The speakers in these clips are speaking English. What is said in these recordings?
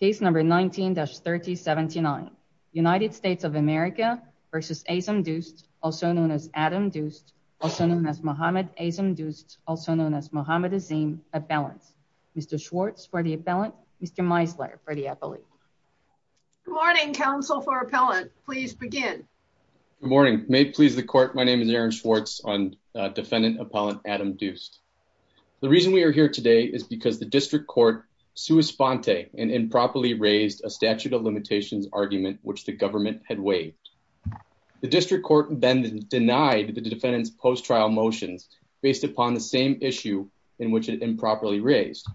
Case number 19-3079. United States of America v. Azam Doost, also known as Adam Doost, also known as Mohamed Azam Doost, also known as Mohamed Azim, appellants. Mr. Schwartz for the appellant, Mr. Meisler for the appellate. Good morning, counsel for appellant. Please begin. Good morning. May it please the court, my name is Aaron Schwartz, defendant appellant Adam Doost. The reason we are here today is because the district court sua sponte and improperly raised a statute of limitations argument which the government had waived. The district court then denied the defendant's post-trial motions based upon the same issue in which it improperly raised.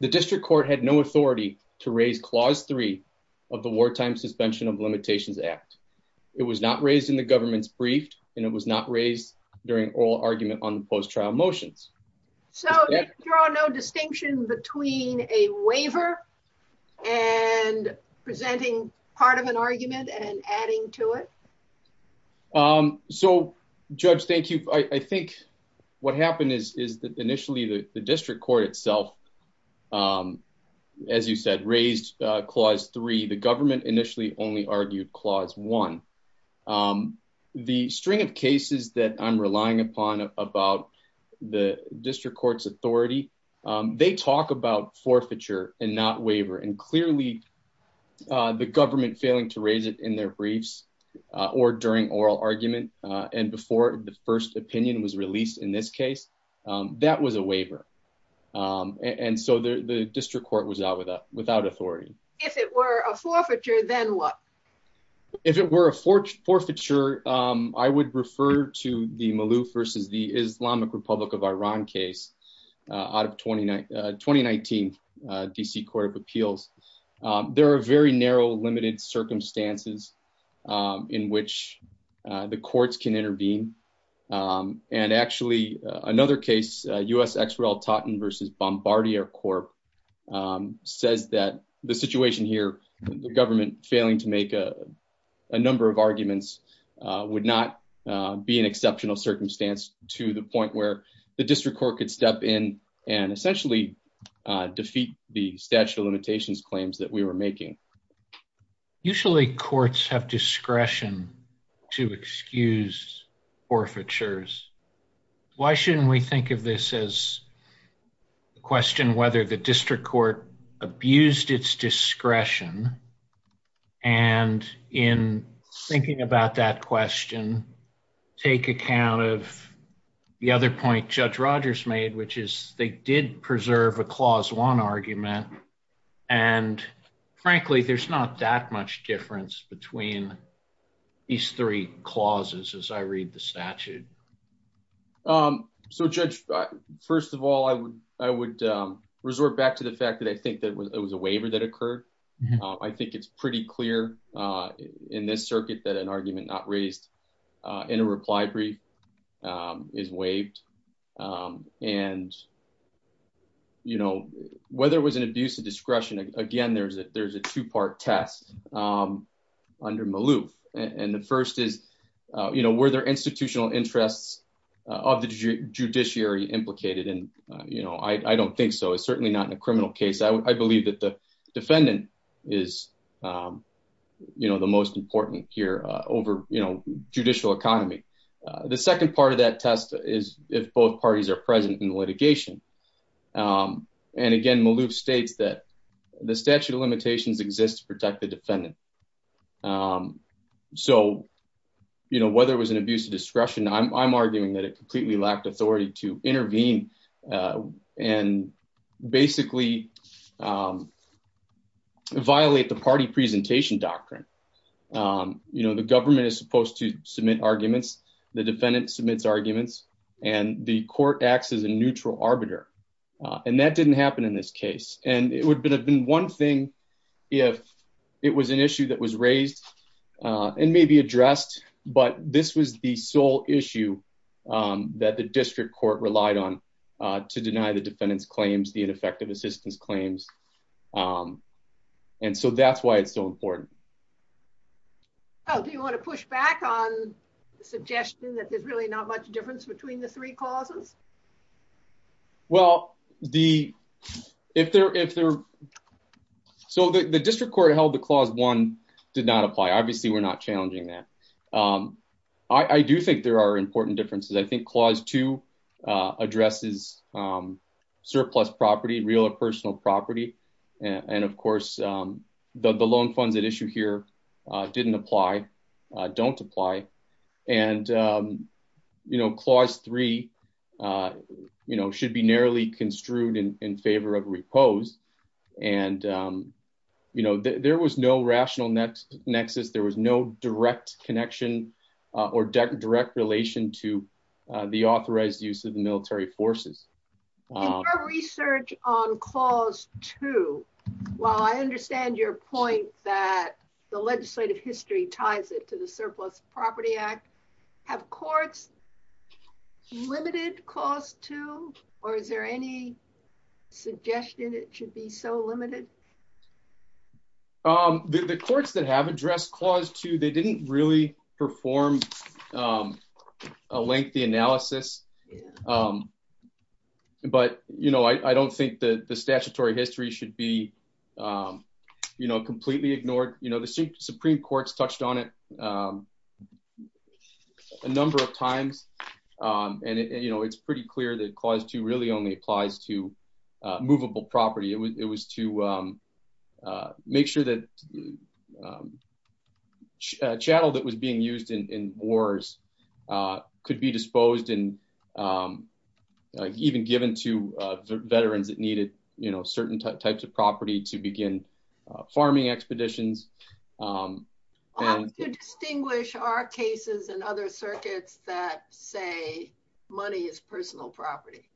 The district court had no authority to raise Clause 3 of the Wartime Suspension of Limitations Act. It was not raised in the government's brief and it was not raised during oral argument on the post-trial motions. So you draw no distinction between a waiver and presenting part of an argument and adding to it? So, Judge, thank you. I think what happened is that initially the district court itself, as you said, raised Clause 3. The government initially only argued Clause 1. Um, the string of cases that I'm relying upon about the district court's authority, they talk about forfeiture and not waiver and clearly the government failing to raise it in their briefs or during oral argument and before the first opinion was released in this case, that was a waiver. And so the district court was out without authority. If it were a forfeiture, then what? If it were a forfeiture, I would refer to the Malouf versus the Islamic Republic of Iran case out of 2019 DC Court of Appeals. There are very narrow, limited circumstances in which the courts can intervene. And actually another case, U.S. ex-royal Totten versus Bombardier Corp says that the situation here, the government failing to make a number of arguments would not be an exceptional circumstance to the point where the district court could step in and essentially defeat the statute of limitations claims that we were making. Usually courts have discretion to excuse forfeitures. Why shouldn't we think of this as a question whether the district court abused its discretion? And in thinking about that question, take account of the other point Judge Rogers made, which is they did preserve a clause one argument. And frankly, there's not that much difference between these three clauses as I read the statute. So Judge, first of all, I would resort back to the fact that I think that it was a waiver that occurred. I think it's pretty clear in this circuit that an argument not raised in a reply brief is waived. And whether it was an abuse of discretion, again, there's a two-part test under Maloof. And the first is, you know, were there institutional interests of the judiciary implicated? And, you know, I don't think so. It's certainly not in a criminal case. I believe that the defendant is, you know, the most important here over, you know, judicial economy. The second part of that test is if both parties are present in litigation. And again, Maloof states that the statute of limitations exists to protect the defendant. So, you know, whether it was an abuse of discretion, I'm arguing that it completely lacked authority to intervene and basically violate the party presentation doctrine. You know, the government is supposed to submit arguments. The defendant submits arguments and the court acts as a neutral arbiter. And that didn't happen in this case. And it would have been one thing if it was an issue that was raised and maybe addressed, but this was the sole issue that the district court relied on to deny the defendant's claims, the ineffective assistance claims. And so that's why it's so important. Oh, do you want to push back on the suggestion that there's really not much difference between the three clauses? Well, the, if there, if there, so the district court held the clause one did not apply. Obviously we're not challenging that. I do think there are important differences. I think clause two addresses surplus property, real or personal property. And of course, the loan funds at issue here didn't apply, don't apply. And, you know, clause three, you know, should be narrowly construed in favor of repose. And, you know, there was no rational nexus. There was no direct connection or direct relation to the authorized use of the military forces. In your research on clause two, while I understand your point that the legislative history ties it to the surplus property act have courts limited clause two, or is there any suggestion it should be so limited? The courts that have addressed clause two, they didn't really perform a lengthy analysis. But, you know, I don't think that the statutory history should be, you know, completely ignored, you know, the Supreme courts touched on it a number of times. And, you know, it's pretty clear that clause two really only applies to military forces. And, you know, it's pretty clear that the military forces could be disposed and even given to veterans that needed, you know, certain types of property to begin farming expeditions. How do you distinguish our cases and other circuits that say money is personal property?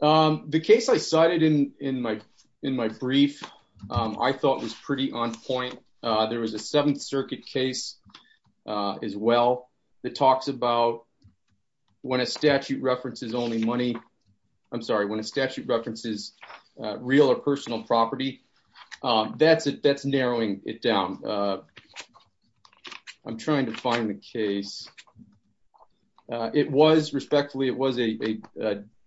The case I cited in my brief, I thought was pretty on point. There was a seventh circuit case as well that talks about when a statute references only money, I'm sorry, when a statute references real or personal property, that's it, that's narrowing it down. I'm trying to find the case. It was respectfully, it was a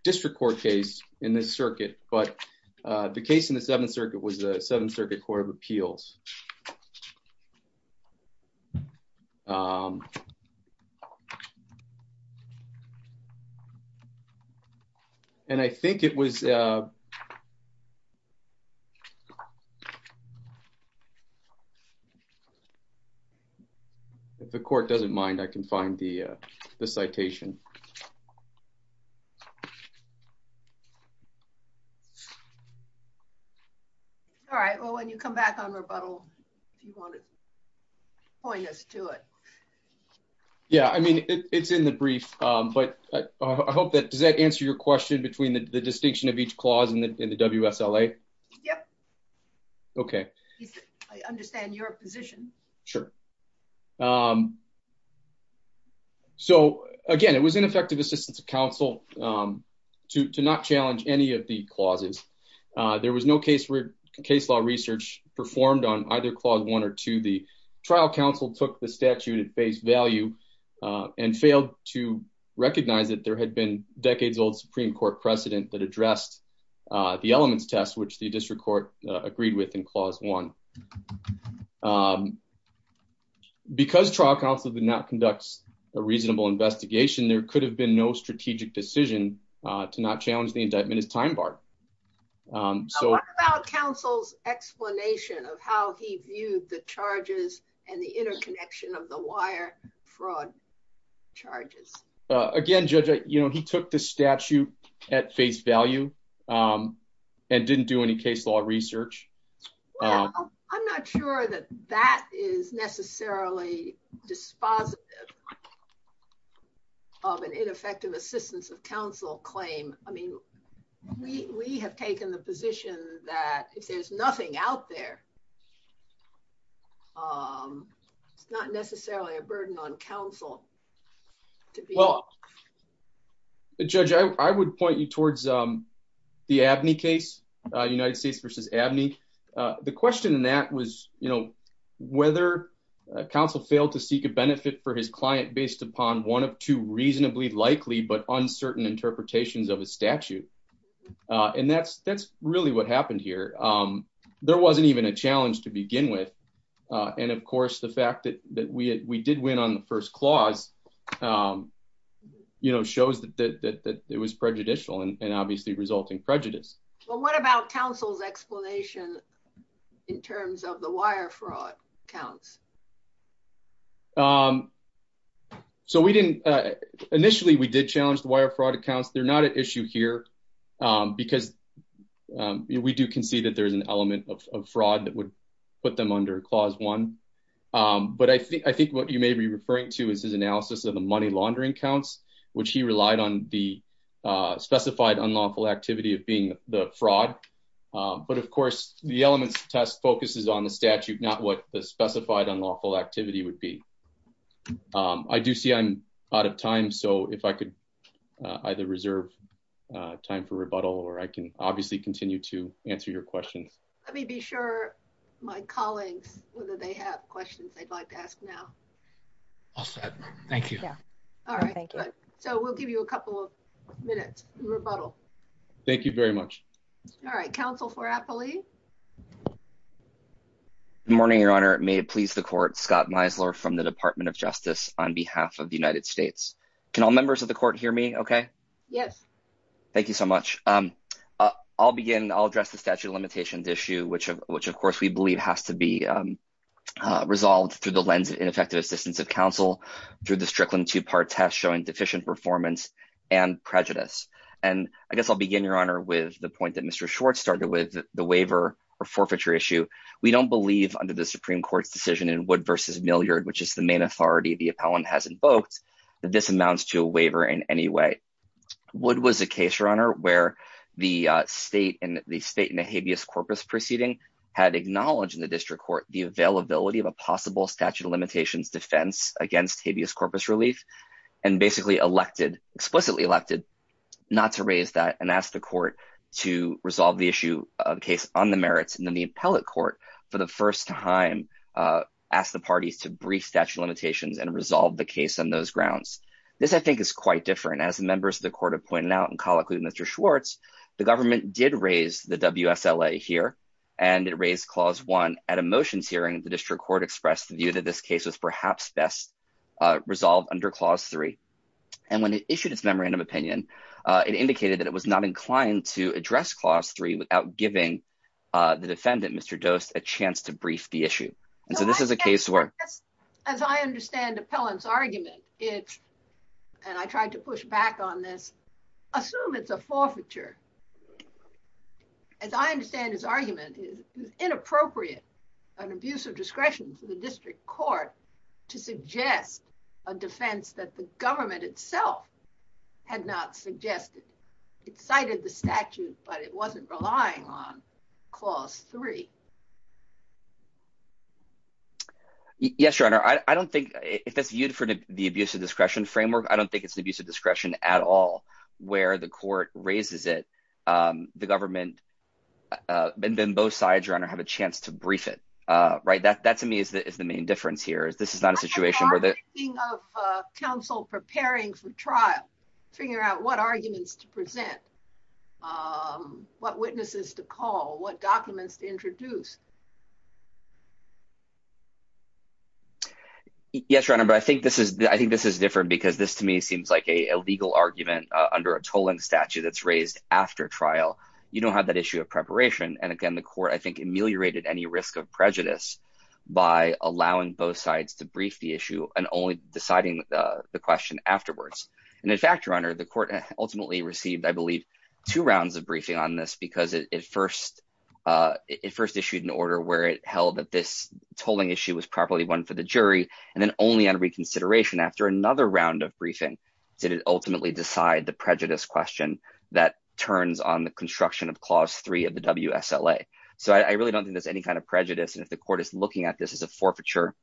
district court case in this circuit, but the case in the seventh circuit was the seventh circuit court of appeals. And I think it was, if the court doesn't mind, I can find the citation. All right. Well, when you come back on rebuttal, if you want to point us to it. Yeah, I mean, it's in the brief, but I hope that does that answer your question between the distinction of each clause in the WSLA? Yep. Okay. I understand your position. Sure. So again, it was ineffective assistance of counsel to not challenge any of the clauses. There was no case where case law research performed on either clause one or two. The trial counsel took the statute at face value and failed to recognize that there had been decades old Supreme court precedent that addressed the elements test, which the district court agreed with in clause one. Because trial counsel did not conduct a reasonable investigation, there could have been no strategic decision to not challenge the indictment as time bar. So what about counsel's explanation of how he viewed the charges and the interconnection of the wire fraud charges? Again, judge, he took the statute at face value and didn't do any case law research. I'm not sure that that is necessarily dispositive of an ineffective assistance of counsel claim. I mean, we have taken the position that if there's nothing out there, it's not necessarily a burden on counsel. Well, judge, I would point you towards the ABNY case, United States versus ABNY. The question in that was whether counsel failed to seek a benefit for his client based upon one of two reasonably likely but uncertain interpretations of a statute. And that's really what happened here. There wasn't even a challenge to begin with. And of course, the fact that we did win on the first clause shows that it was prejudicial and obviously resulting prejudice. Well, what about counsel's explanation in terms of the wire fraud counts? So initially, we did challenge the wire fraud accounts. They're not an issue here because we do concede that there's an element of fraud that would put them under Clause 1. But I think what you may be referring to is his analysis of the money laundering counts, which he relied on the specified unlawful activity of being the fraud. But of course, the elements test focuses on the statute, not what the specified unlawful activity would be. I do see I'm out of time. So if I could either reserve time for rebuttal, or I can obviously continue to answer your questions. Let me be sure my colleagues, whether they have questions they'd like to ask now. All set. Thank you. Yeah. All right. So we'll give you a couple of minutes rebuttal. Thank you very much. All right, counsel for happily. Good morning, Your Honor. May it please the court Scott Meisler from the Department of Justice on behalf of the United States. Can all members of the court hear me? Okay. Yes. Thank you so much. I'll begin. I'll address the statute of limitations issue, which, of course, we believe has to be resolved through the lens of ineffective assistance of counsel through the Strickland two-part test showing deficient performance and prejudice. And I guess I'll begin, Your Honor, with the point that Mr. Schwartz started with the waiver or forfeiture issue. We don't believe under the Supreme Court's decision in Wood v. Milliard, which is the main authority the appellant has invoked, that this amounts to a waiver in any way. Wood was a case, where the state in the habeas corpus proceeding had acknowledged in the district court the availability of a possible statute of limitations defense against habeas corpus relief and basically explicitly elected not to raise that and asked the court to resolve the issue of the case on the merits. And then the appellate court, for the first time, asked the parties to brief statute limitations and resolve the case on those grounds. This, I think, is quite different. As members of Mr. Schwartz, the government did raise the WSLA here and it raised Clause 1 at a motions hearing. The district court expressed the view that this case was perhaps best resolved under Clause 3. And when it issued its memorandum opinion, it indicated that it was not inclined to address Clause 3 without giving the defendant, Mr. Dost, a chance to brief the issue. And so this is a case As I understand the appellant's argument, and I tried to push back on this, assume it's a forfeiture. As I understand his argument, it is inappropriate, an abuse of discretion to the district court to suggest a defense that the government itself had not suggested. It cited the statute, but it wasn't relying on Clause 3. Yes, Your Honor. I don't think, if that's viewed for the abuse of discretion framework, I don't think it's the abuse of discretion at all where the court raises it, the government, and then both sides, Your Honor, have a chance to brief it. That, to me, is the main difference here. This is not a situation where the- I'm talking about the thing of counsel preparing for trial, figuring out what arguments to present, what witnesses to call, what documents to introduce. Yes, Your Honor, but I think this is- I think this is different because this, to me, seems like a legal argument under a tolling statute that's raised after trial. You don't have that issue of preparation. And again, the court, I think, ameliorated any risk of prejudice by allowing both sides to brief the issue and only deciding the question afterwards. And in fact, Your Honor, the court ultimately received, I believe, two rounds of briefing on this because it first issued an order where it held that this tolling issue was properly one for the jury, and then only on reconsideration after another round of briefing did it ultimately decide the prejudice question that turns on the construction of Clause 3 of the WSLA. So, I really don't think there's any kind of prejudice. And if the court is looking at this as a forfeiture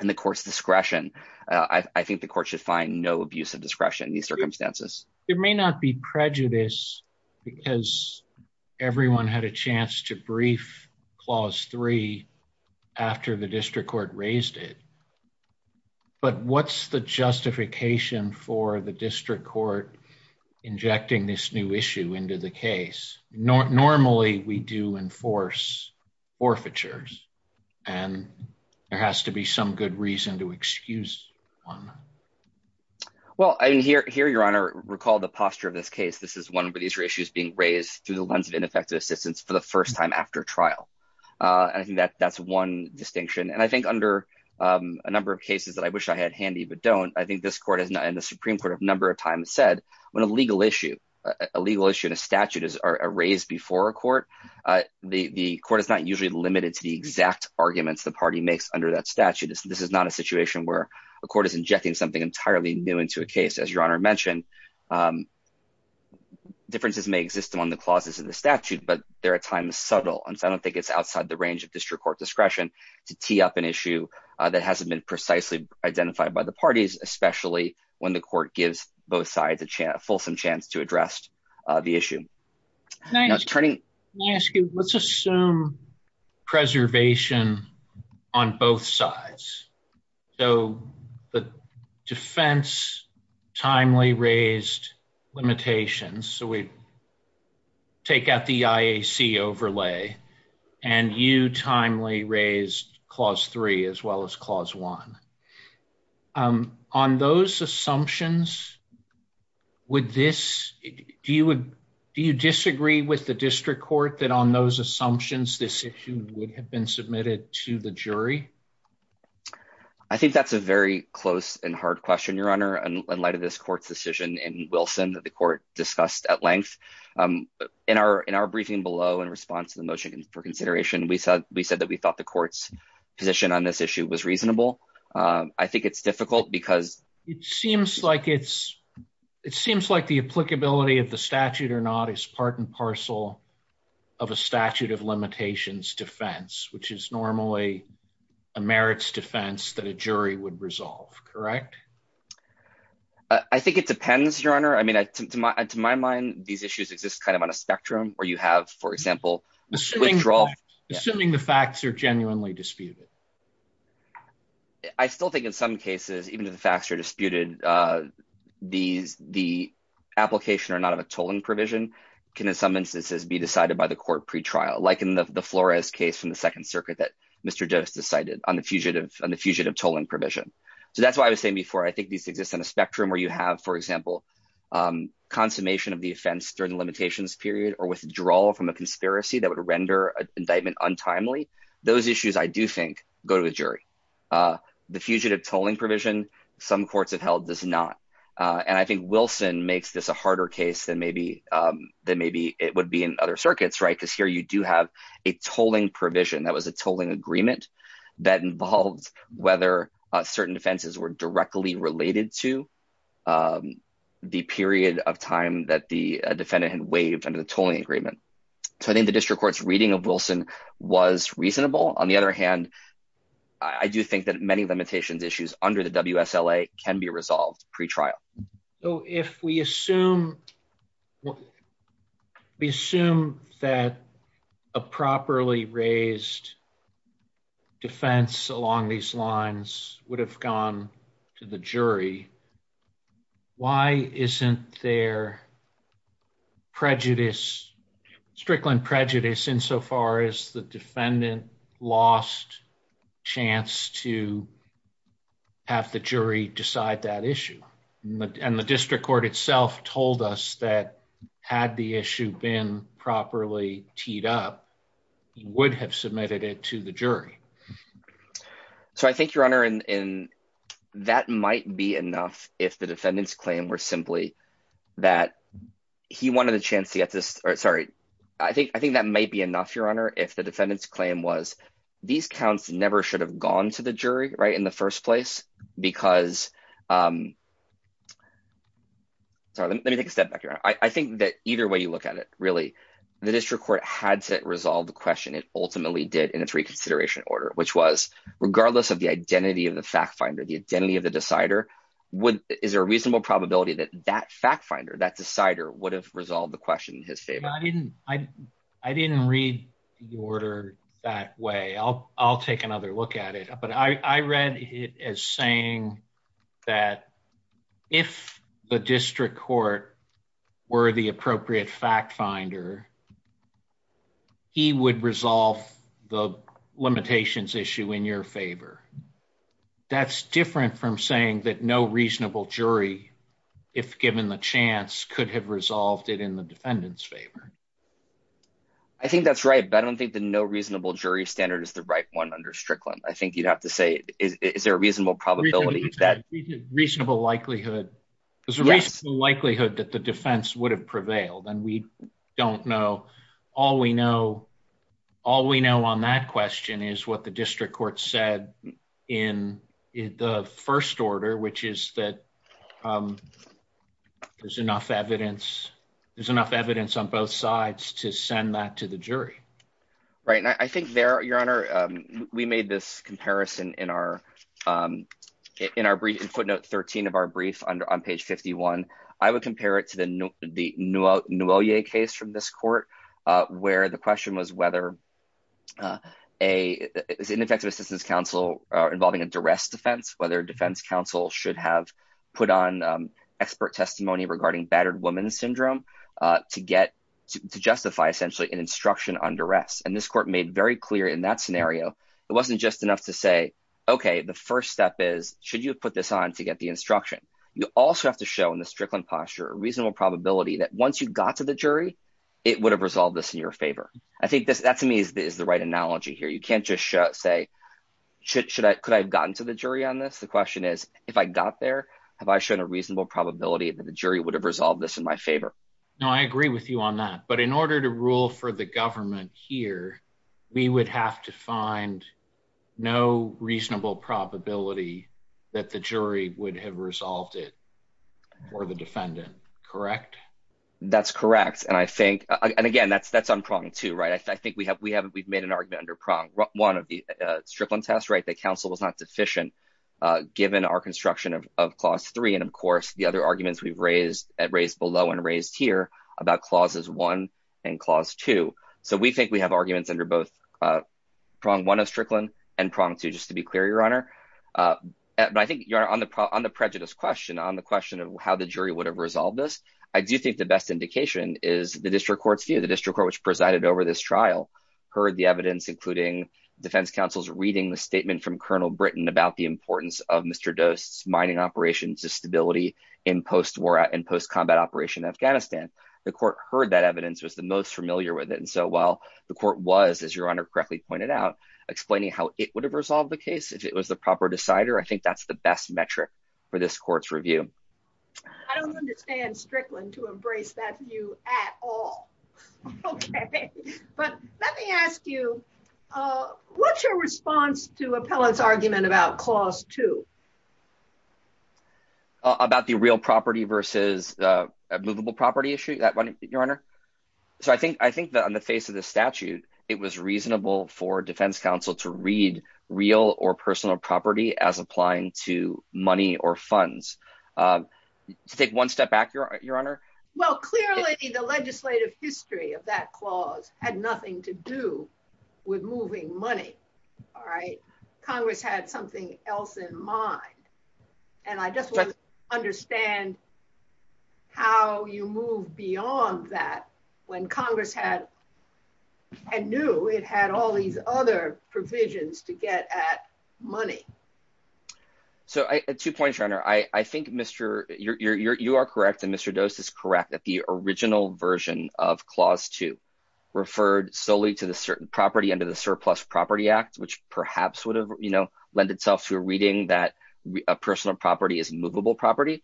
in the court's discretion, I think the court should find no abuse of discretion in these circumstances. There may not be prejudice because everyone had a chance to brief Clause 3 after the district court raised it. But what's the justification for the district court injecting this new issue into the case? Normally, we do enforce forfeitures, and there has to be some good reason to excuse one. Well, here, Your Honor, recall the posture of this case. This is one where these are issues being raised through the lens of ineffective assistance for the first time after trial. And I think that's one distinction. And I think under a number of cases that I wish I had handy, but don't, I think this court and the Supreme Court have a number of times said, when a legal issue, a legal issue in a statute is raised before a court, the court is not usually limited to the exact arguments the party makes under that statute. This is not a situation where a court is injecting something entirely new into a case, as Your Honor mentioned. Differences may exist among the clauses in the statute, but there are times subtle, and I don't think it's outside the range of district court discretion to tee up an issue that hasn't been precisely identified by the parties, especially when the fulsome chance to address the issue. Let me ask you, let's assume preservation on both sides. So the defense timely raised limitations. So we take out the IAC overlay and you timely raised clause three as well as clause one. On those assumptions, do you disagree with the district court that on those assumptions, this issue would have been submitted to the jury? I think that's a very close and hard question, Your Honor, in light of this court's decision in Wilson that the court discussed at length. In our briefing below in response to the motion for consideration, we said that we thought the court's position on this issue was reasonable. I think it's difficult because it seems like the applicability of the statute or not is part and parcel of a statute of limitations defense, which is normally a merits defense that a jury would resolve, correct? I think it depends, Your Honor. I mean, to my mind, these issues exist kind of on a spectrum where you have, for example, withdrawal. Assuming the facts are genuinely disputed. I still think in some cases, even if the facts are disputed, the application or not of a tolling provision can, in some instances, be decided by the court pretrial, like in the Flores case from the Second Circuit that Mr. Jost decided on the fugitive tolling provision. So that's why I was saying before, I think these exist on a spectrum where you have, for example, consummation of the defense during the limitations period or withdrawal from a conspiracy that would render an indictment untimely. Those issues, I do think, go to the jury. The fugitive tolling provision, some courts have held does not. And I think Wilson makes this a harder case than maybe it would be in other circuits, right? Because here you do have a tolling provision that was a tolling agreement that involved whether certain defenses were directly related to the period of time that the defendant had waived under the tolling agreement. So I think the district court's reading of Wilson was reasonable. On the other hand, I do think that many limitations issues under the WSLA can be resolved pretrial. So if we assume that a properly raised defense along these lines would have gone to the jury, why isn't there prejudice, strickling prejudice, insofar as the defendant lost chance to have the jury decide that issue? And the district court itself told us that had the issue been properly teed up, he would have submitted it to the jury. So I think, Your Honor, that might be enough if the defendant's claim was simply that he wanted the chance to get this. Sorry, I think that might be enough, Your Honor, if the defendant's claim was these counts never should have gone to the jury, right, in the first place, because... Sorry, let me take a step back here. I think that either way you look at it, really, the district court had to resolve the question. It ultimately did in its reconsideration order. Which was, regardless of the identity of the fact finder, the identity of the decider, is there a reasonable probability that that fact finder, that decider would have resolved the question in his favor? I didn't read the order that way. I'll take another look at it. But I read it as saying that if the district court were the appropriate fact finder, he would resolve the limitations issue in your favor. That's different from saying that no reasonable jury, if given the chance, could have resolved it in the defendant's favor. I think that's right, but I don't think the no reasonable jury standard is the right one under Strickland. I think you'd have to say, is there a reasonable probability that... Reasonable likelihood. There's a reasonable likelihood that the defense would have prevailed, and we don't know. All we know on that question is what the district court said in the first order, which is that there's enough evidence on both sides to send that to the jury. Right. I think there, Your Honor, we made this comparison in our brief, in footnote 13 of our case from this court, where the question was whether an effective assistance counsel involving a duress defense, whether a defense counsel should have put on expert testimony regarding battered woman syndrome to justify essentially an instruction on duress. And this court made very clear in that scenario, it wasn't just enough to say, okay, the first step is, should you put this on to get the instruction? You also have to show in the Strickland posture, a reasonable probability that once you got to the jury, it would have resolved this in your favor. I think that to me is the right analogy here. You can't just say, should I, could I have gotten to the jury on this? The question is, if I got there, have I shown a reasonable probability that the jury would have resolved this in my favor? No, I agree with you on that. But in order to rule for the government here, we would have to find no reasonable probability that the jury would have resolved it for the defendant, correct? That's correct. And I think, and again, that's, that's on prong two, right? I think we have, we haven't, we've made an argument under prong one of the Strickland test, right? That counsel was not deficient given our construction of clause three. And of course the other arguments we've raised at raised below and raised here about clauses one and clause two. So we think we have arguments under both prong one of Strickland and prong two, just to be clear, your honor. But I think you're on the, on the prejudice question, on the question of how the jury would have resolved this. I do think the best indication is the district court's view, the district court, which presided over this trial, heard the evidence, including defense counsel's reading the statement from Colonel Britton about the importance of Mr. Dost's mining operations to stability in post-war and post-combat operation Afghanistan. The court heard that evidence was the most familiar with it. And so while the court was, as your honor correctly pointed out, explaining how it would have resolved the case, if it was the proper decider, I think that's the best metric for this court's review. I don't understand Strickland to embrace that view at all. Okay. But let me ask you, uh, what's your response to appellate's argument about clause two? About the real property versus, uh, movable property issue that one, your honor. So I think, I think that on the face of the statute, it was reasonable for defense counsel to read real or personal property as applying to money or funds, um, to take one step back your honor. Well, clearly the legislative history of that clause had nothing to do with moving money. All right. Congress had something else in mind, and I just want to understand how you move beyond that when Congress had, I knew it had all these other provisions to get at money. So I, two points, your honor. I, I think Mr. you're, you're, you're, you are correct. And Mr. Dost is correct that the original version of clause two referred solely to the certain property under the surplus property act, which perhaps would have, you know, lend itself to reading that a personal property is movable property.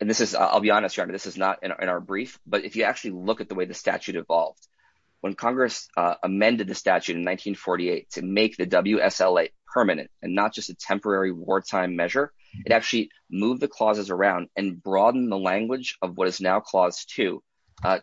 And this is, I'll be honest, your honor, this is not in our brief, but if you actually look at the way the statute evolved, when Congress, uh, amended the statute in 1948 to make the WSLA permanent and not just a temporary wartime measure, it actually moved the clauses around and broaden the language of what is now clause two,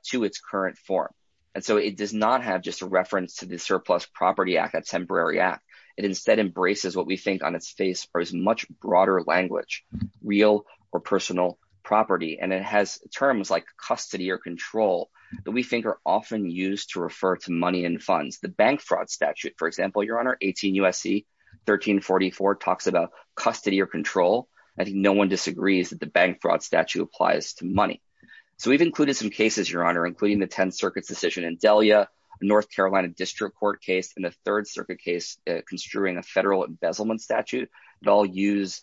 to its current form. And so it does not have just a reference to the surplus property act, temporary act. It instead embraces what we think on its face or as much broader language, real or personal property. And it has terms like custody or control that we think are often used to refer to money and funds the bank fraud statute, for example, your honor, 18 USC 1344 talks about custody or control. I think no one disagrees that the bank fraud statute applies to money. So we've included some cases, your honor, including the 10 circuits decision in Delia, North Carolina district court case in the third circuit case, uh, construing a federal embezzlement statute. It all use,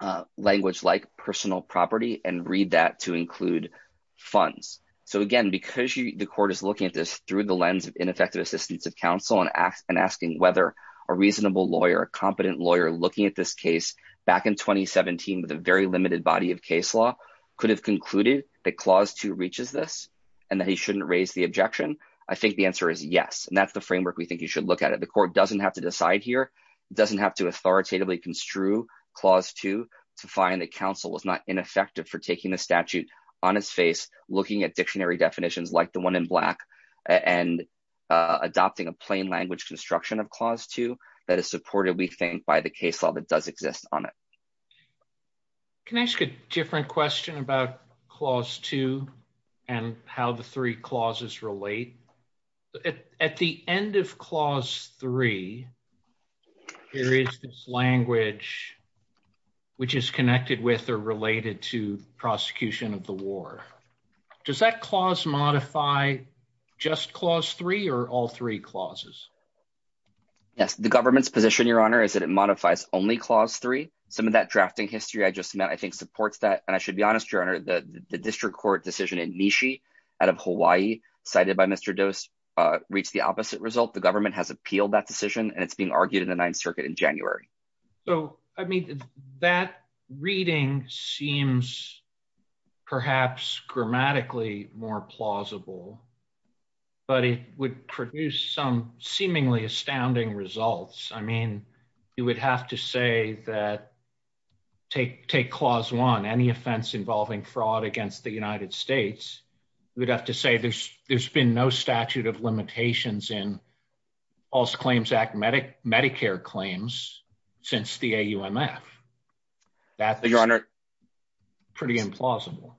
uh, language like personal property and read that to include funds. So again, because you, the court is looking at this through the lens of ineffective assistance of counsel and ask and asking whether a reasonable lawyer, a competent lawyer looking at this case back in 2017 with a very limited body of case law could have concluded that clause two reaches this and that he shouldn't raise the objection. I think the answer is yes. And that's the framework. We think you should look at it. The court doesn't have to decide here. It doesn't have to authoritatively construe clause two to find that counsel was not ineffective for taking the statute on its face, looking at dictionary definitions like the one in black and, uh, adopting a plain language construction of clause two that is supported. We think by the case law that does exist on it. Can I ask a different question about clause two and how the three clauses relate at the end of clause three, there is this language which is connected with or related to prosecution of the war. Does that clause modify just clause three or all three clauses? Yes. The government's position, your honor, is that it modifies only clause three. Some of that drafting history I just met, I think supports that. And I should be honest, your honor, the district court decision in Nishi out of Hawaii cited by Mr. Dose, uh, reached the opposite result. The government has appealed that decision and it's being argued in the ninth circuit in January. So, I mean, that reading seems perhaps grammatically more plausible, but it would produce some seemingly astounding results. I mean, you would have to say that take, take clause one, any offense involving fraud against the United States, you would have to say there's, there's been no statute of limitations in false claims act medic Medicare claims since the AUMF. That's pretty implausible.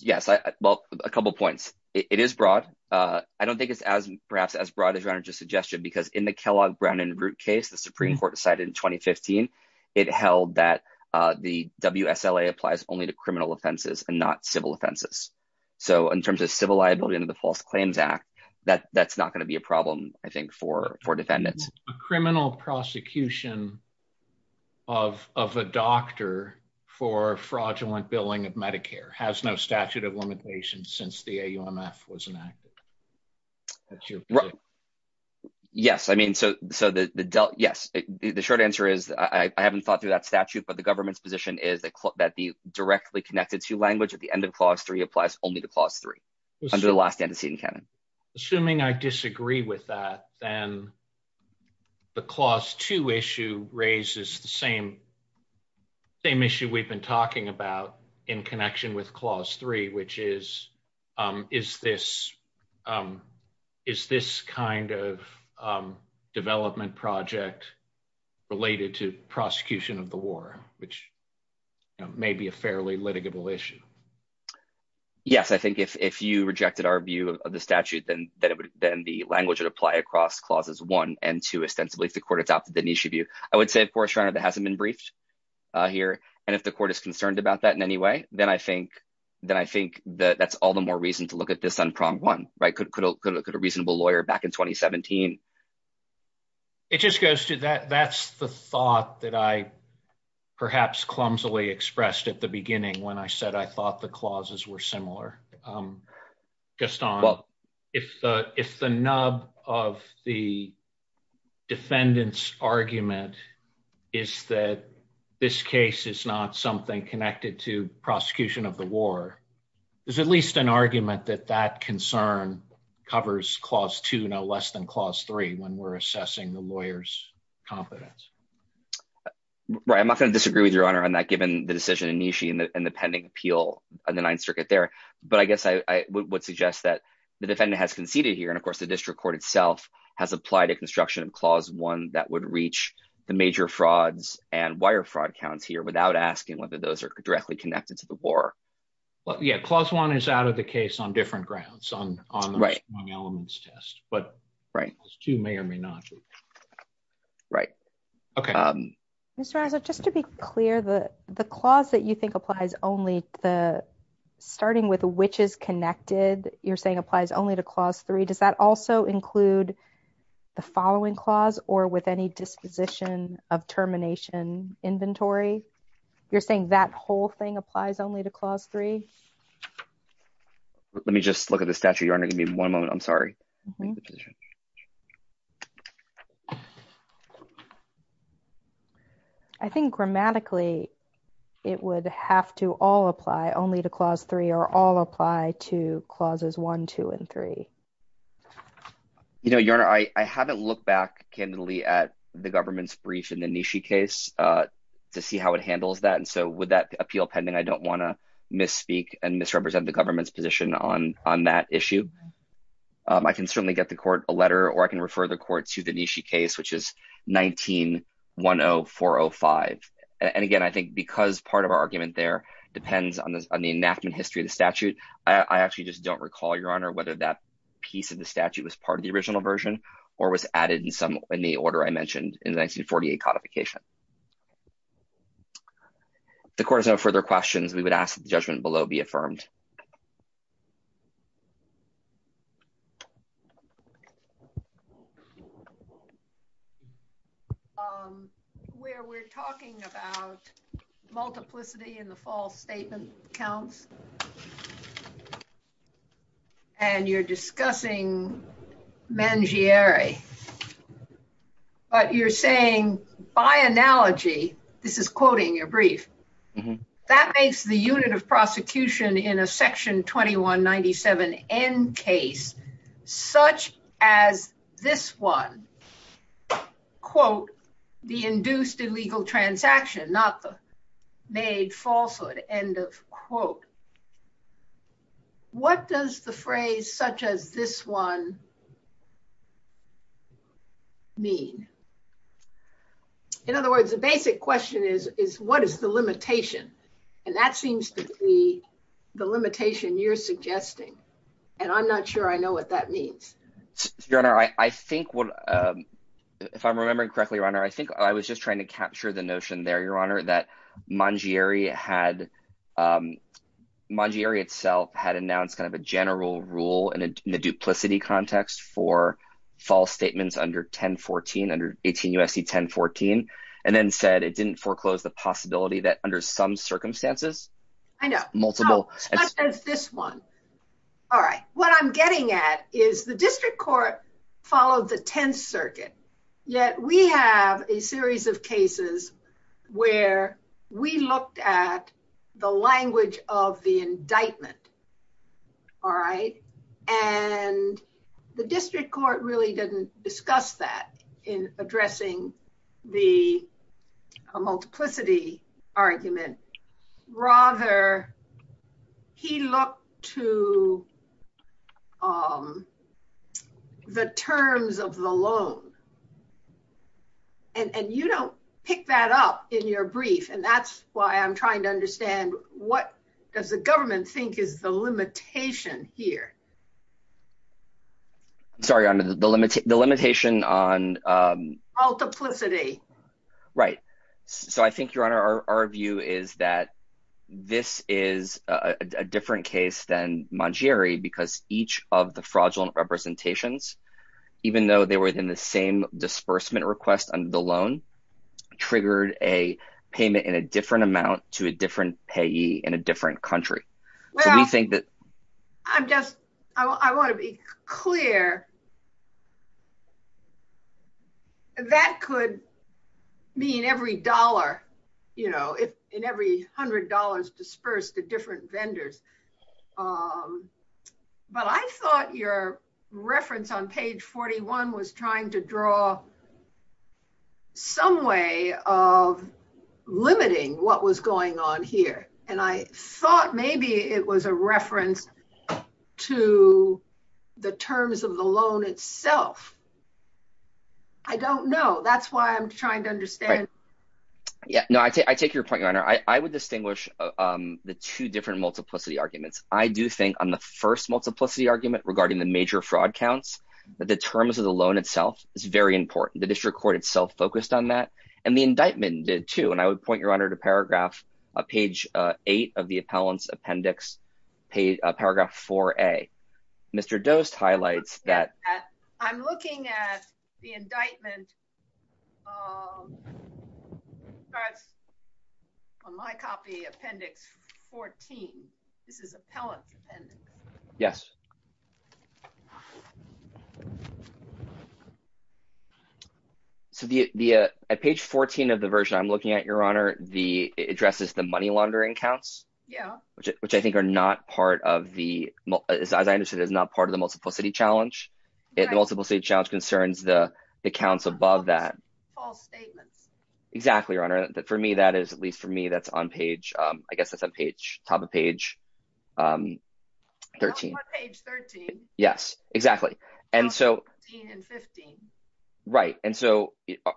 Yes. I, well, a couple of points. It is broad. Uh, I don't think it's as perhaps as broad as your honor's suggestion, because in the Kellogg Brown and root case, the Supreme court decided in 2015, it held that, uh, the WSLA applies only to criminal offenses and not civil offenses. So in terms of civil liability under the false claims act that that's not going to be a problem, I think for, for defendants, criminal prosecution of, of a doctor for fraudulent billing of Medicare has no statute of limitations since the AUMF was enacted. Yes. I mean, so, so the, the, yes, the short answer is I haven't thought through that statute, but the government's position is that that the directly connected to language at the end of clause three applies only to clause three under the last antecedent canon. Assuming I disagree with that, then the clause two issue raises the same, same issue we've been talking about in connection with clause three, which is, um, is this, um, is this kind of, um, development project related to prosecution of the war, which may be a fairly litigable issue. Yes. I think if, if you rejected our view of the statute, then that it would, then the language would apply across clauses one and two, ostensibly if the court adopted the niche of you, I would say, of course, that hasn't been briefed, uh, here. And if the court is concerned about that in any way, then I think, then I think that that's all the more reason to look at this on prong one, right? Could, could, could, could a reasonable lawyer back in 2017, it just goes to that. That's the thought that I perhaps clumsily expressed at the beginning when I said, I thought the clauses were is that this case is not something connected to prosecution of the war. There's at least an argument that that concern covers clause two, no less than clause three, when we're assessing the lawyer's competence. Right. I'm not going to disagree with your honor on that, given the decision and Nishi and the pending appeal on the ninth circuit there. But I guess I would suggest that the defendant has conceded here. And of course the district court itself has applied a construction of clause one that would reach the major frauds and wire fraud counts here without asking whether those are directly connected to the war. Well, yeah, clause one is out of the case on different grounds on, on the elements test, but right. Those two may or may not. Right. Okay. Um, just to be clear, the, the clause that you think applies only the starting with which is connected, you're saying applies only to clause three. Does that also include the following clause or with any disposition of termination inventory? You're saying that whole thing applies only to clause three. Let me just look at the statute. You're going to give me one moment. I'm sorry. I think grammatically it would have to all apply only to clause three or all apply to clauses one, two, and three. You know, your honor, I haven't looked back candidly at the government's brief in the Nishi case, uh, to see how it handles that. And so with that appeal pending, I don't want to misspeak and misrepresent the government's position on, on that issue. Um, I can certainly get the court a letter or I can refer the court to the Nishi case, which is 19 one Oh four Oh five. And again, I think because part of our argument there depends on the enactment history of the statute. I actually just don't recall your honor, whether that piece of the statute was part of the original version or was added in some, in the order I mentioned in the 1948 codification, the court has no further questions. We would ask the judgment below be affirmed. Um, where we're talking about multiplicity in the false statement counts and you're discussing men, Jerry, but you're saying by analogy, this is quoting your brief that makes the unit of prosecution in a section 2197 end case, such as this one quote, the induced illegal transaction, not the made falsehood end of quote, what does the phrase such as this one mean? In other words, the basic question is, is what is the limitation? And that seems to be the limitation you're suggesting. And I'm not sure I know what that means. Your honor. I think what, if I'm remembering correctly, your honor, I think I was just trying to capture the notion there, your honor, that mongerie had, um, mongerie itself had announced kind of a general rule in the duplicity context for false statements under 1014 under 18 USC 1014, and then said it didn't foreclose the possibility that under some circumstances, I know multiple as this one. All right. What I'm getting at is the district court followed the 10th circuit. Yet we have a and the district court really didn't discuss that in addressing the multiplicity argument, rather, he looked to, um, the terms of the loan. And you don't pick that up in your brief. And that's why I'm trying to understand what does the government think is the limitation here? Sorry, on the limit, the limitation on multiplicity, right? So I think your honor, our view is that this is a different case than mongerie because each of the fraudulent representations, even though they were in the same disbursement request under the loan, triggered a payment in a different amount to a different payee in a different country. Well, we think that I'm just, I want to be clear. That could mean every dollar, you know, if in every hundred dollars disperse the different vendors. Um, but I thought your reference on page 41 was trying to draw some way of limiting what was going on here. And I thought maybe it was a reference to the terms of the loan itself. I don't know. That's why I'm trying to understand. Yeah, no, I take, I take your point. Your honor, I would distinguish, um, the two different multiplicity arguments. I do think on the first multiplicity argument regarding the major fraud counts, but the terms of the loan itself is very important. The district court itself focused on that and the indictment did too. And I would point your honor to paragraph, uh, page, uh, eight of the appellants appendix paid a paragraph for a Mr. Dost highlights that I'm looking at the indictment. Um, that's on my copy appendix 14. This is a pellet. Yes. So the, the, uh, at page 14 of the version I'm looking at your honor, the addresses, the money laundering counts, which I think are not part of the, as I understood, is not part of the multiple city challenge. It, the multiple city challenge concerns the accounts above that false statements. Exactly. Your honor that for me, that is at least for me, that's on page, um, I guess that's a page top of page, um, 13. Yes, exactly. And so right. And so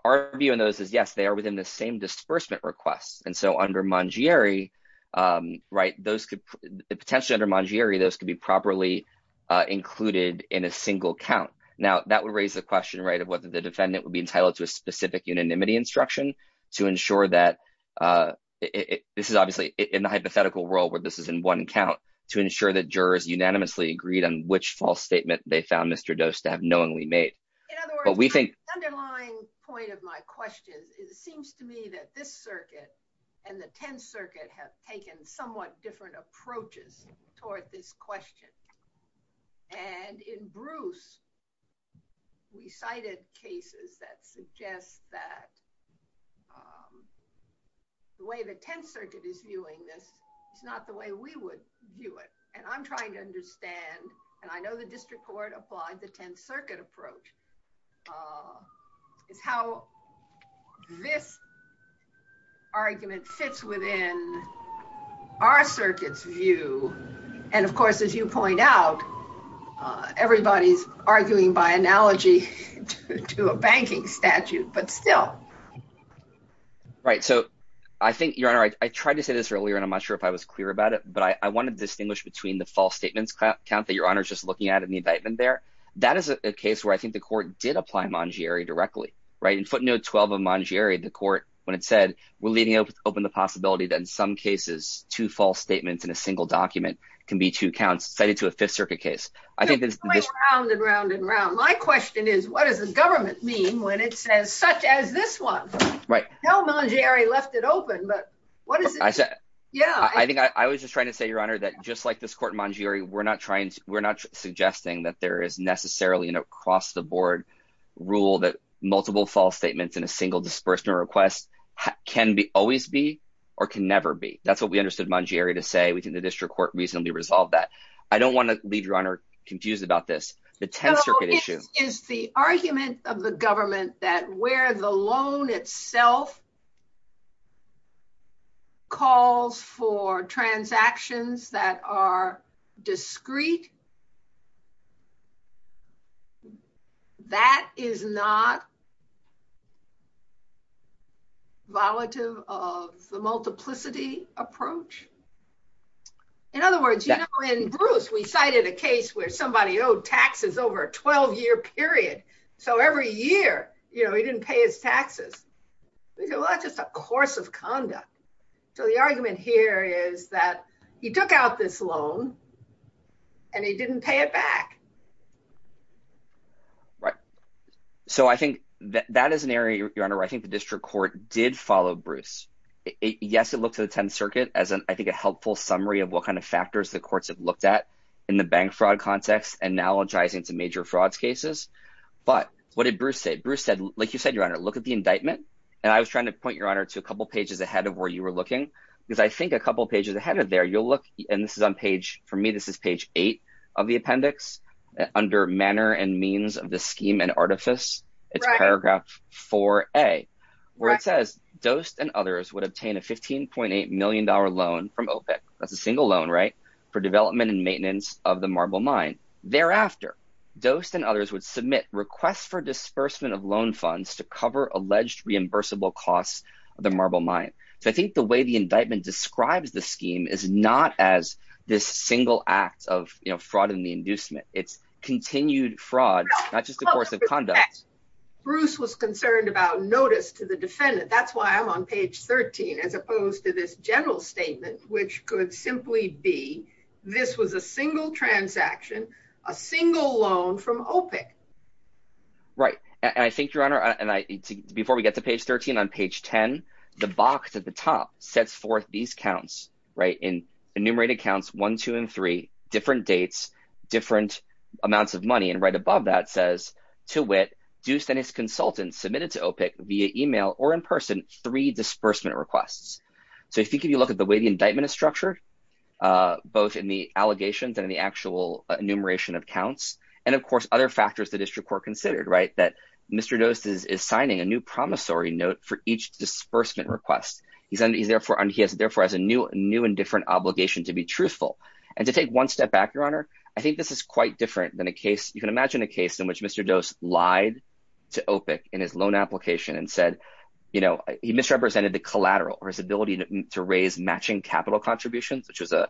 our view in those is yes, they are within the same disbursement requests. And so under Mungeri, um, right. Those could potentially under Mungeri, those could be properly, uh, included in a single count. Now that would raise the question, right. Of whether the defendant would be entitled to a specific unanimity instruction to ensure that, uh, it, this is obviously in the hypothetical world where this is in one count to ensure that jurors unanimously agreed on which false statement they found Mr. Dost to have knowingly made. In other words, underlying point of my questions is it seems to me that this circuit and the 10th circuit have taken somewhat different approaches toward this question. And in Bruce, we cited cases that suggest that, um, the way the 10th circuit is viewing this, it's not the way we would view it. And I'm trying to understand, and I know the district court applied the 10th circuit approach, uh, is how this argument fits within our circuits view. And of course, as you point out, uh, everybody's arguing by analogy to a banking statute, but still. Right. So I think your honor, I tried to say this earlier and I'm not sure if I was clear about it, but I wanted to distinguish between the false statements count that your honor is just looking at in the indictment there. That is a case where I think the court did apply Manjiri directly, right? And footnote 12 of Manjiri, the court, when it said, we're leading up with open the possibility that in some cases, two false statements in a single document can be two counts cited to a fifth circuit case. I think there's round and round and round. My question is what does the government mean when it says such as this one, right? No, Manjiri left it open, but what is it? Yeah, I think I was just trying to say, your honor, that just like this court we're not trying to, we're not suggesting that there is necessarily an across the board rule that multiple false statements in a single disbursement request can be always be, or can never be. That's what we understood Manjiri to say. We think the district court reasonably resolved that. I don't want to leave your honor confused about this. The 10th circuit issue is the argument of the government that where the loan itself calls for transactions that are discreet, that is not volative of the multiplicity approach. In other words, in Bruce, we cited a case where somebody owed taxes over a 12 year period. So every year, you know, he didn't pay his taxes. Well, that's just a course of conduct. So the argument here is that he took out this loan and he didn't pay it back. Right. So I think that is an area, your honor, I think the district court did follow Bruce. Yes, it looks at the 10th circuit as I think a helpful summary of what factors the courts have looked at in the bank fraud context, analogizing to major frauds cases. But what did Bruce say? Bruce said, like you said, your honor, look at the indictment. And I was trying to point your honor to a couple pages ahead of where you were looking. Because I think a couple pages ahead of there, you'll look and this is on page for me, this is page eight of the appendix under manner and means of the scheme and artifice. It's paragraph 4a, where it says Dost and others would obtain a 15.8 million dollar loan from OPEC. That's a single loan right for development and maintenance of the marble mine. Thereafter, Dost and others would submit requests for disbursement of loan funds to cover alleged reimbursable costs of the marble mine. So I think the way the indictment describes the scheme is not as this single act of fraud in the inducement. It's continued fraud, not just a course of conduct. Bruce was concerned about notice to the defendant. That's why I'm on page 13, as opposed to this general statement, which could simply be this was a single transaction, a single loan from OPEC. Right. And I think your honor, and I think before we get to page 13 on page 10, the box at the top sets forth these counts, right in enumerated accounts, one, two and three different dates, different amounts of money. And right above that says to wit, Dost and his consultants submitted to OPEC via email or in person, three disbursement requests. So if you can, you look at the way the indictment is structured, both in the allegations and the actual enumeration of counts. And of course, other factors, the district court considered, right, that Mr. Dost is signing a new promissory note for each disbursement request. He's therefore and he has therefore has a new new and different obligation to be truthful. And to take one step back, your honor, I think this is quite different than a case. You can imagine a case in which Mr. Dost lied to OPEC in his loan application and said, you know, he misrepresented the collateral or his ability to raise matching capital contributions, which was a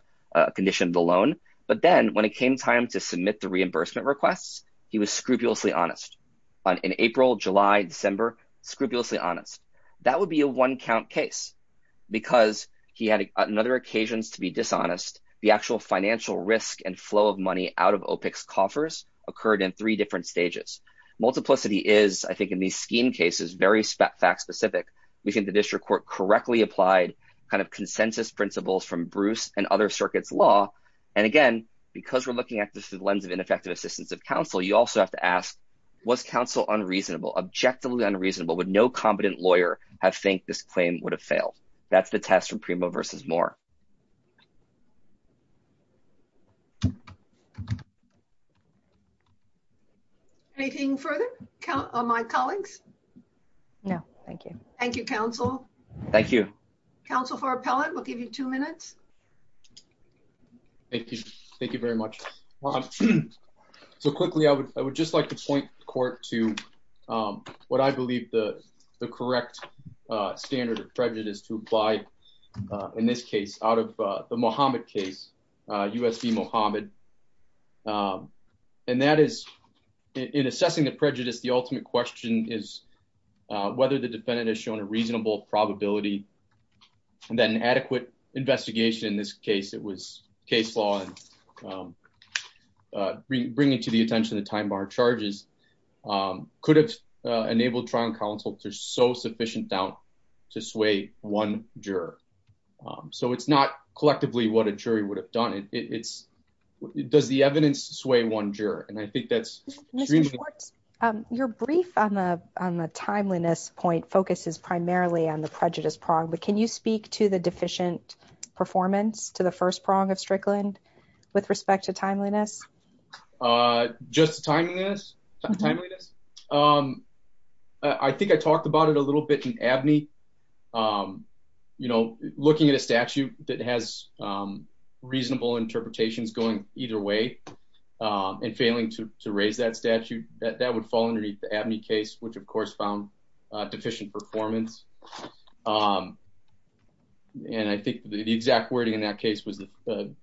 condition of the loan. But then when it came time to submit the reimbursement requests, he was scrupulously honest on an April, July, December, scrupulously honest. That would be a one count case because he had another occasions to be dishonest. The actual financial risk and flow of money out of OPEC's multiplicity is, I think, in these scheme cases, very fact specific. We think the district court correctly applied kind of consensus principles from Bruce and other circuits law. And again, because we're looking at this through the lens of ineffective assistance of counsel, you also have to ask, was counsel unreasonable, objectively unreasonable, would no competent lawyer have would have failed. That's the test for Primo versus Moore. Anything further on my colleagues? No, thank you. Thank you, counsel. Thank you. Counsel for appellate. We'll give you two minutes. Thank you. Thank you very much. So quickly, I would I would just like to point court to what I believe the correct standard of prejudice to apply in this case out of the Mohammed case, USB Mohammed. And that is in assessing the prejudice. The ultimate question is whether the defendant has shown a reasonable probability and then adequate investigation. In this case, it was case law and bringing to the attention of the time bar charges could have enabled trial counsel to so sufficient doubt to sway one juror. So it's not collectively what a jury would have done. It's does the evidence sway one juror? And I think that's your brief on the on the timeliness point focuses primarily on the prejudice problem. Can you speak to the deficient performance to the first prong of Strickland with respect to timeliness? Just timing is timeliness. I think I talked about it a little bit in Abney. You know, looking at a statute that has reasonable interpretations going either way and failing to raise that statute that that would fall underneath the Abney case, which, of course, found deficient performance. And I think the exact wording in that case was the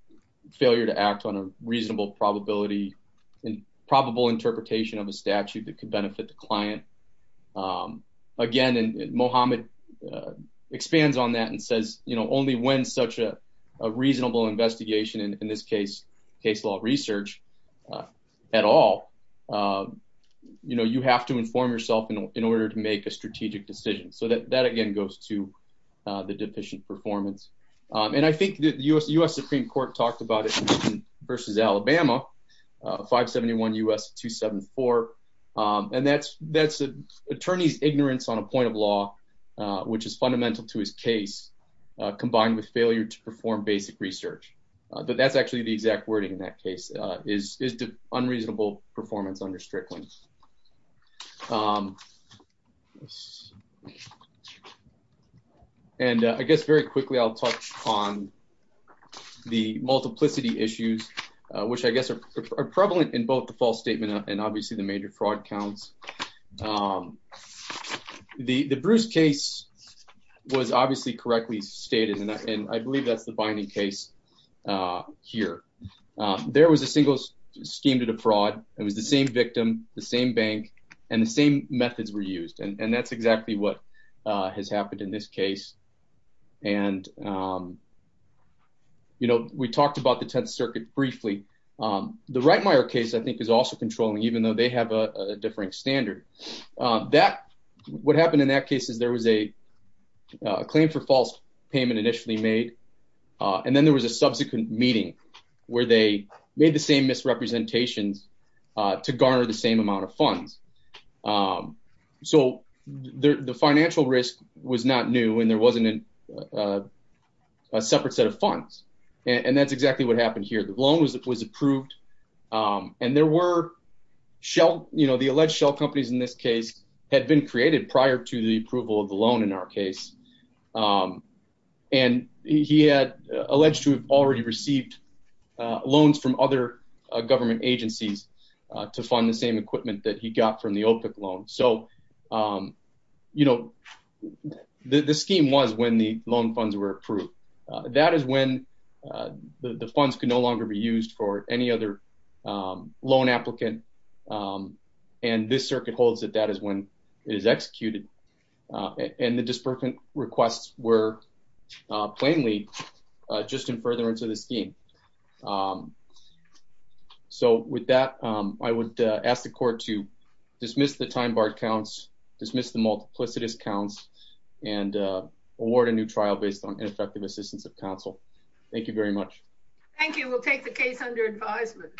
failure to act on a reasonable probability and probable interpretation of a statute that could benefit the client again. And Mohammed expands on that and says, you know, only when such a reasonable investigation in this case, case law research at all. You know, you have to inform yourself in order to make a strategic decision so that that, again, goes to the deficient performance. And I think the U.S. Supreme Court talked about it versus Alabama, 571 U.S. 274. And that's that's an attorney's ignorance on a point of law, which is fundamental to his case, combined with failure to perform basic research. But that's actually the exact wording in that is unreasonable performance under Strickland. And I guess very quickly, I'll touch on the multiplicity issues, which I guess are prevalent in both the false statement and obviously the major fraud counts. The Bruce case was obviously correctly stated, and I believe that's the binding case here. There was a single scheme to defraud. It was the same victim, the same bank, and the same methods were used. And that's exactly what has happened in this case. And, you know, we talked about the Tenth Circuit briefly. The Reitmayer case, I think, is also controlling, even though they have a differing standard. That what happened in that case is there was a claim for false payment initially made, and then there was a subsequent meeting where they made the same misrepresentations to garner the same amount of funds. So the financial risk was not new and there wasn't a separate set of funds. And that's exactly what happened here. The loan was approved and there were shell, you know, the alleged shell companies in this case had been created prior to the approval of the loan in our case. And he had alleged to have already received loans from other government agencies to fund the same equipment that he got from the OPIC loan. So, you know, the scheme was when the loan funds were approved. That is when the funds could no longer be used for any other loan applicant. And this circuit holds that that is when it is executed. And the disbursement requests were plainly just in furtherance of the scheme. So with that, I would ask the court to dismiss the time-barred counts, dismiss the multiplicitous counts, and award a new trial based on ineffective assistance of counsel. Thank you very much. Thank you. We'll take the case under advisement.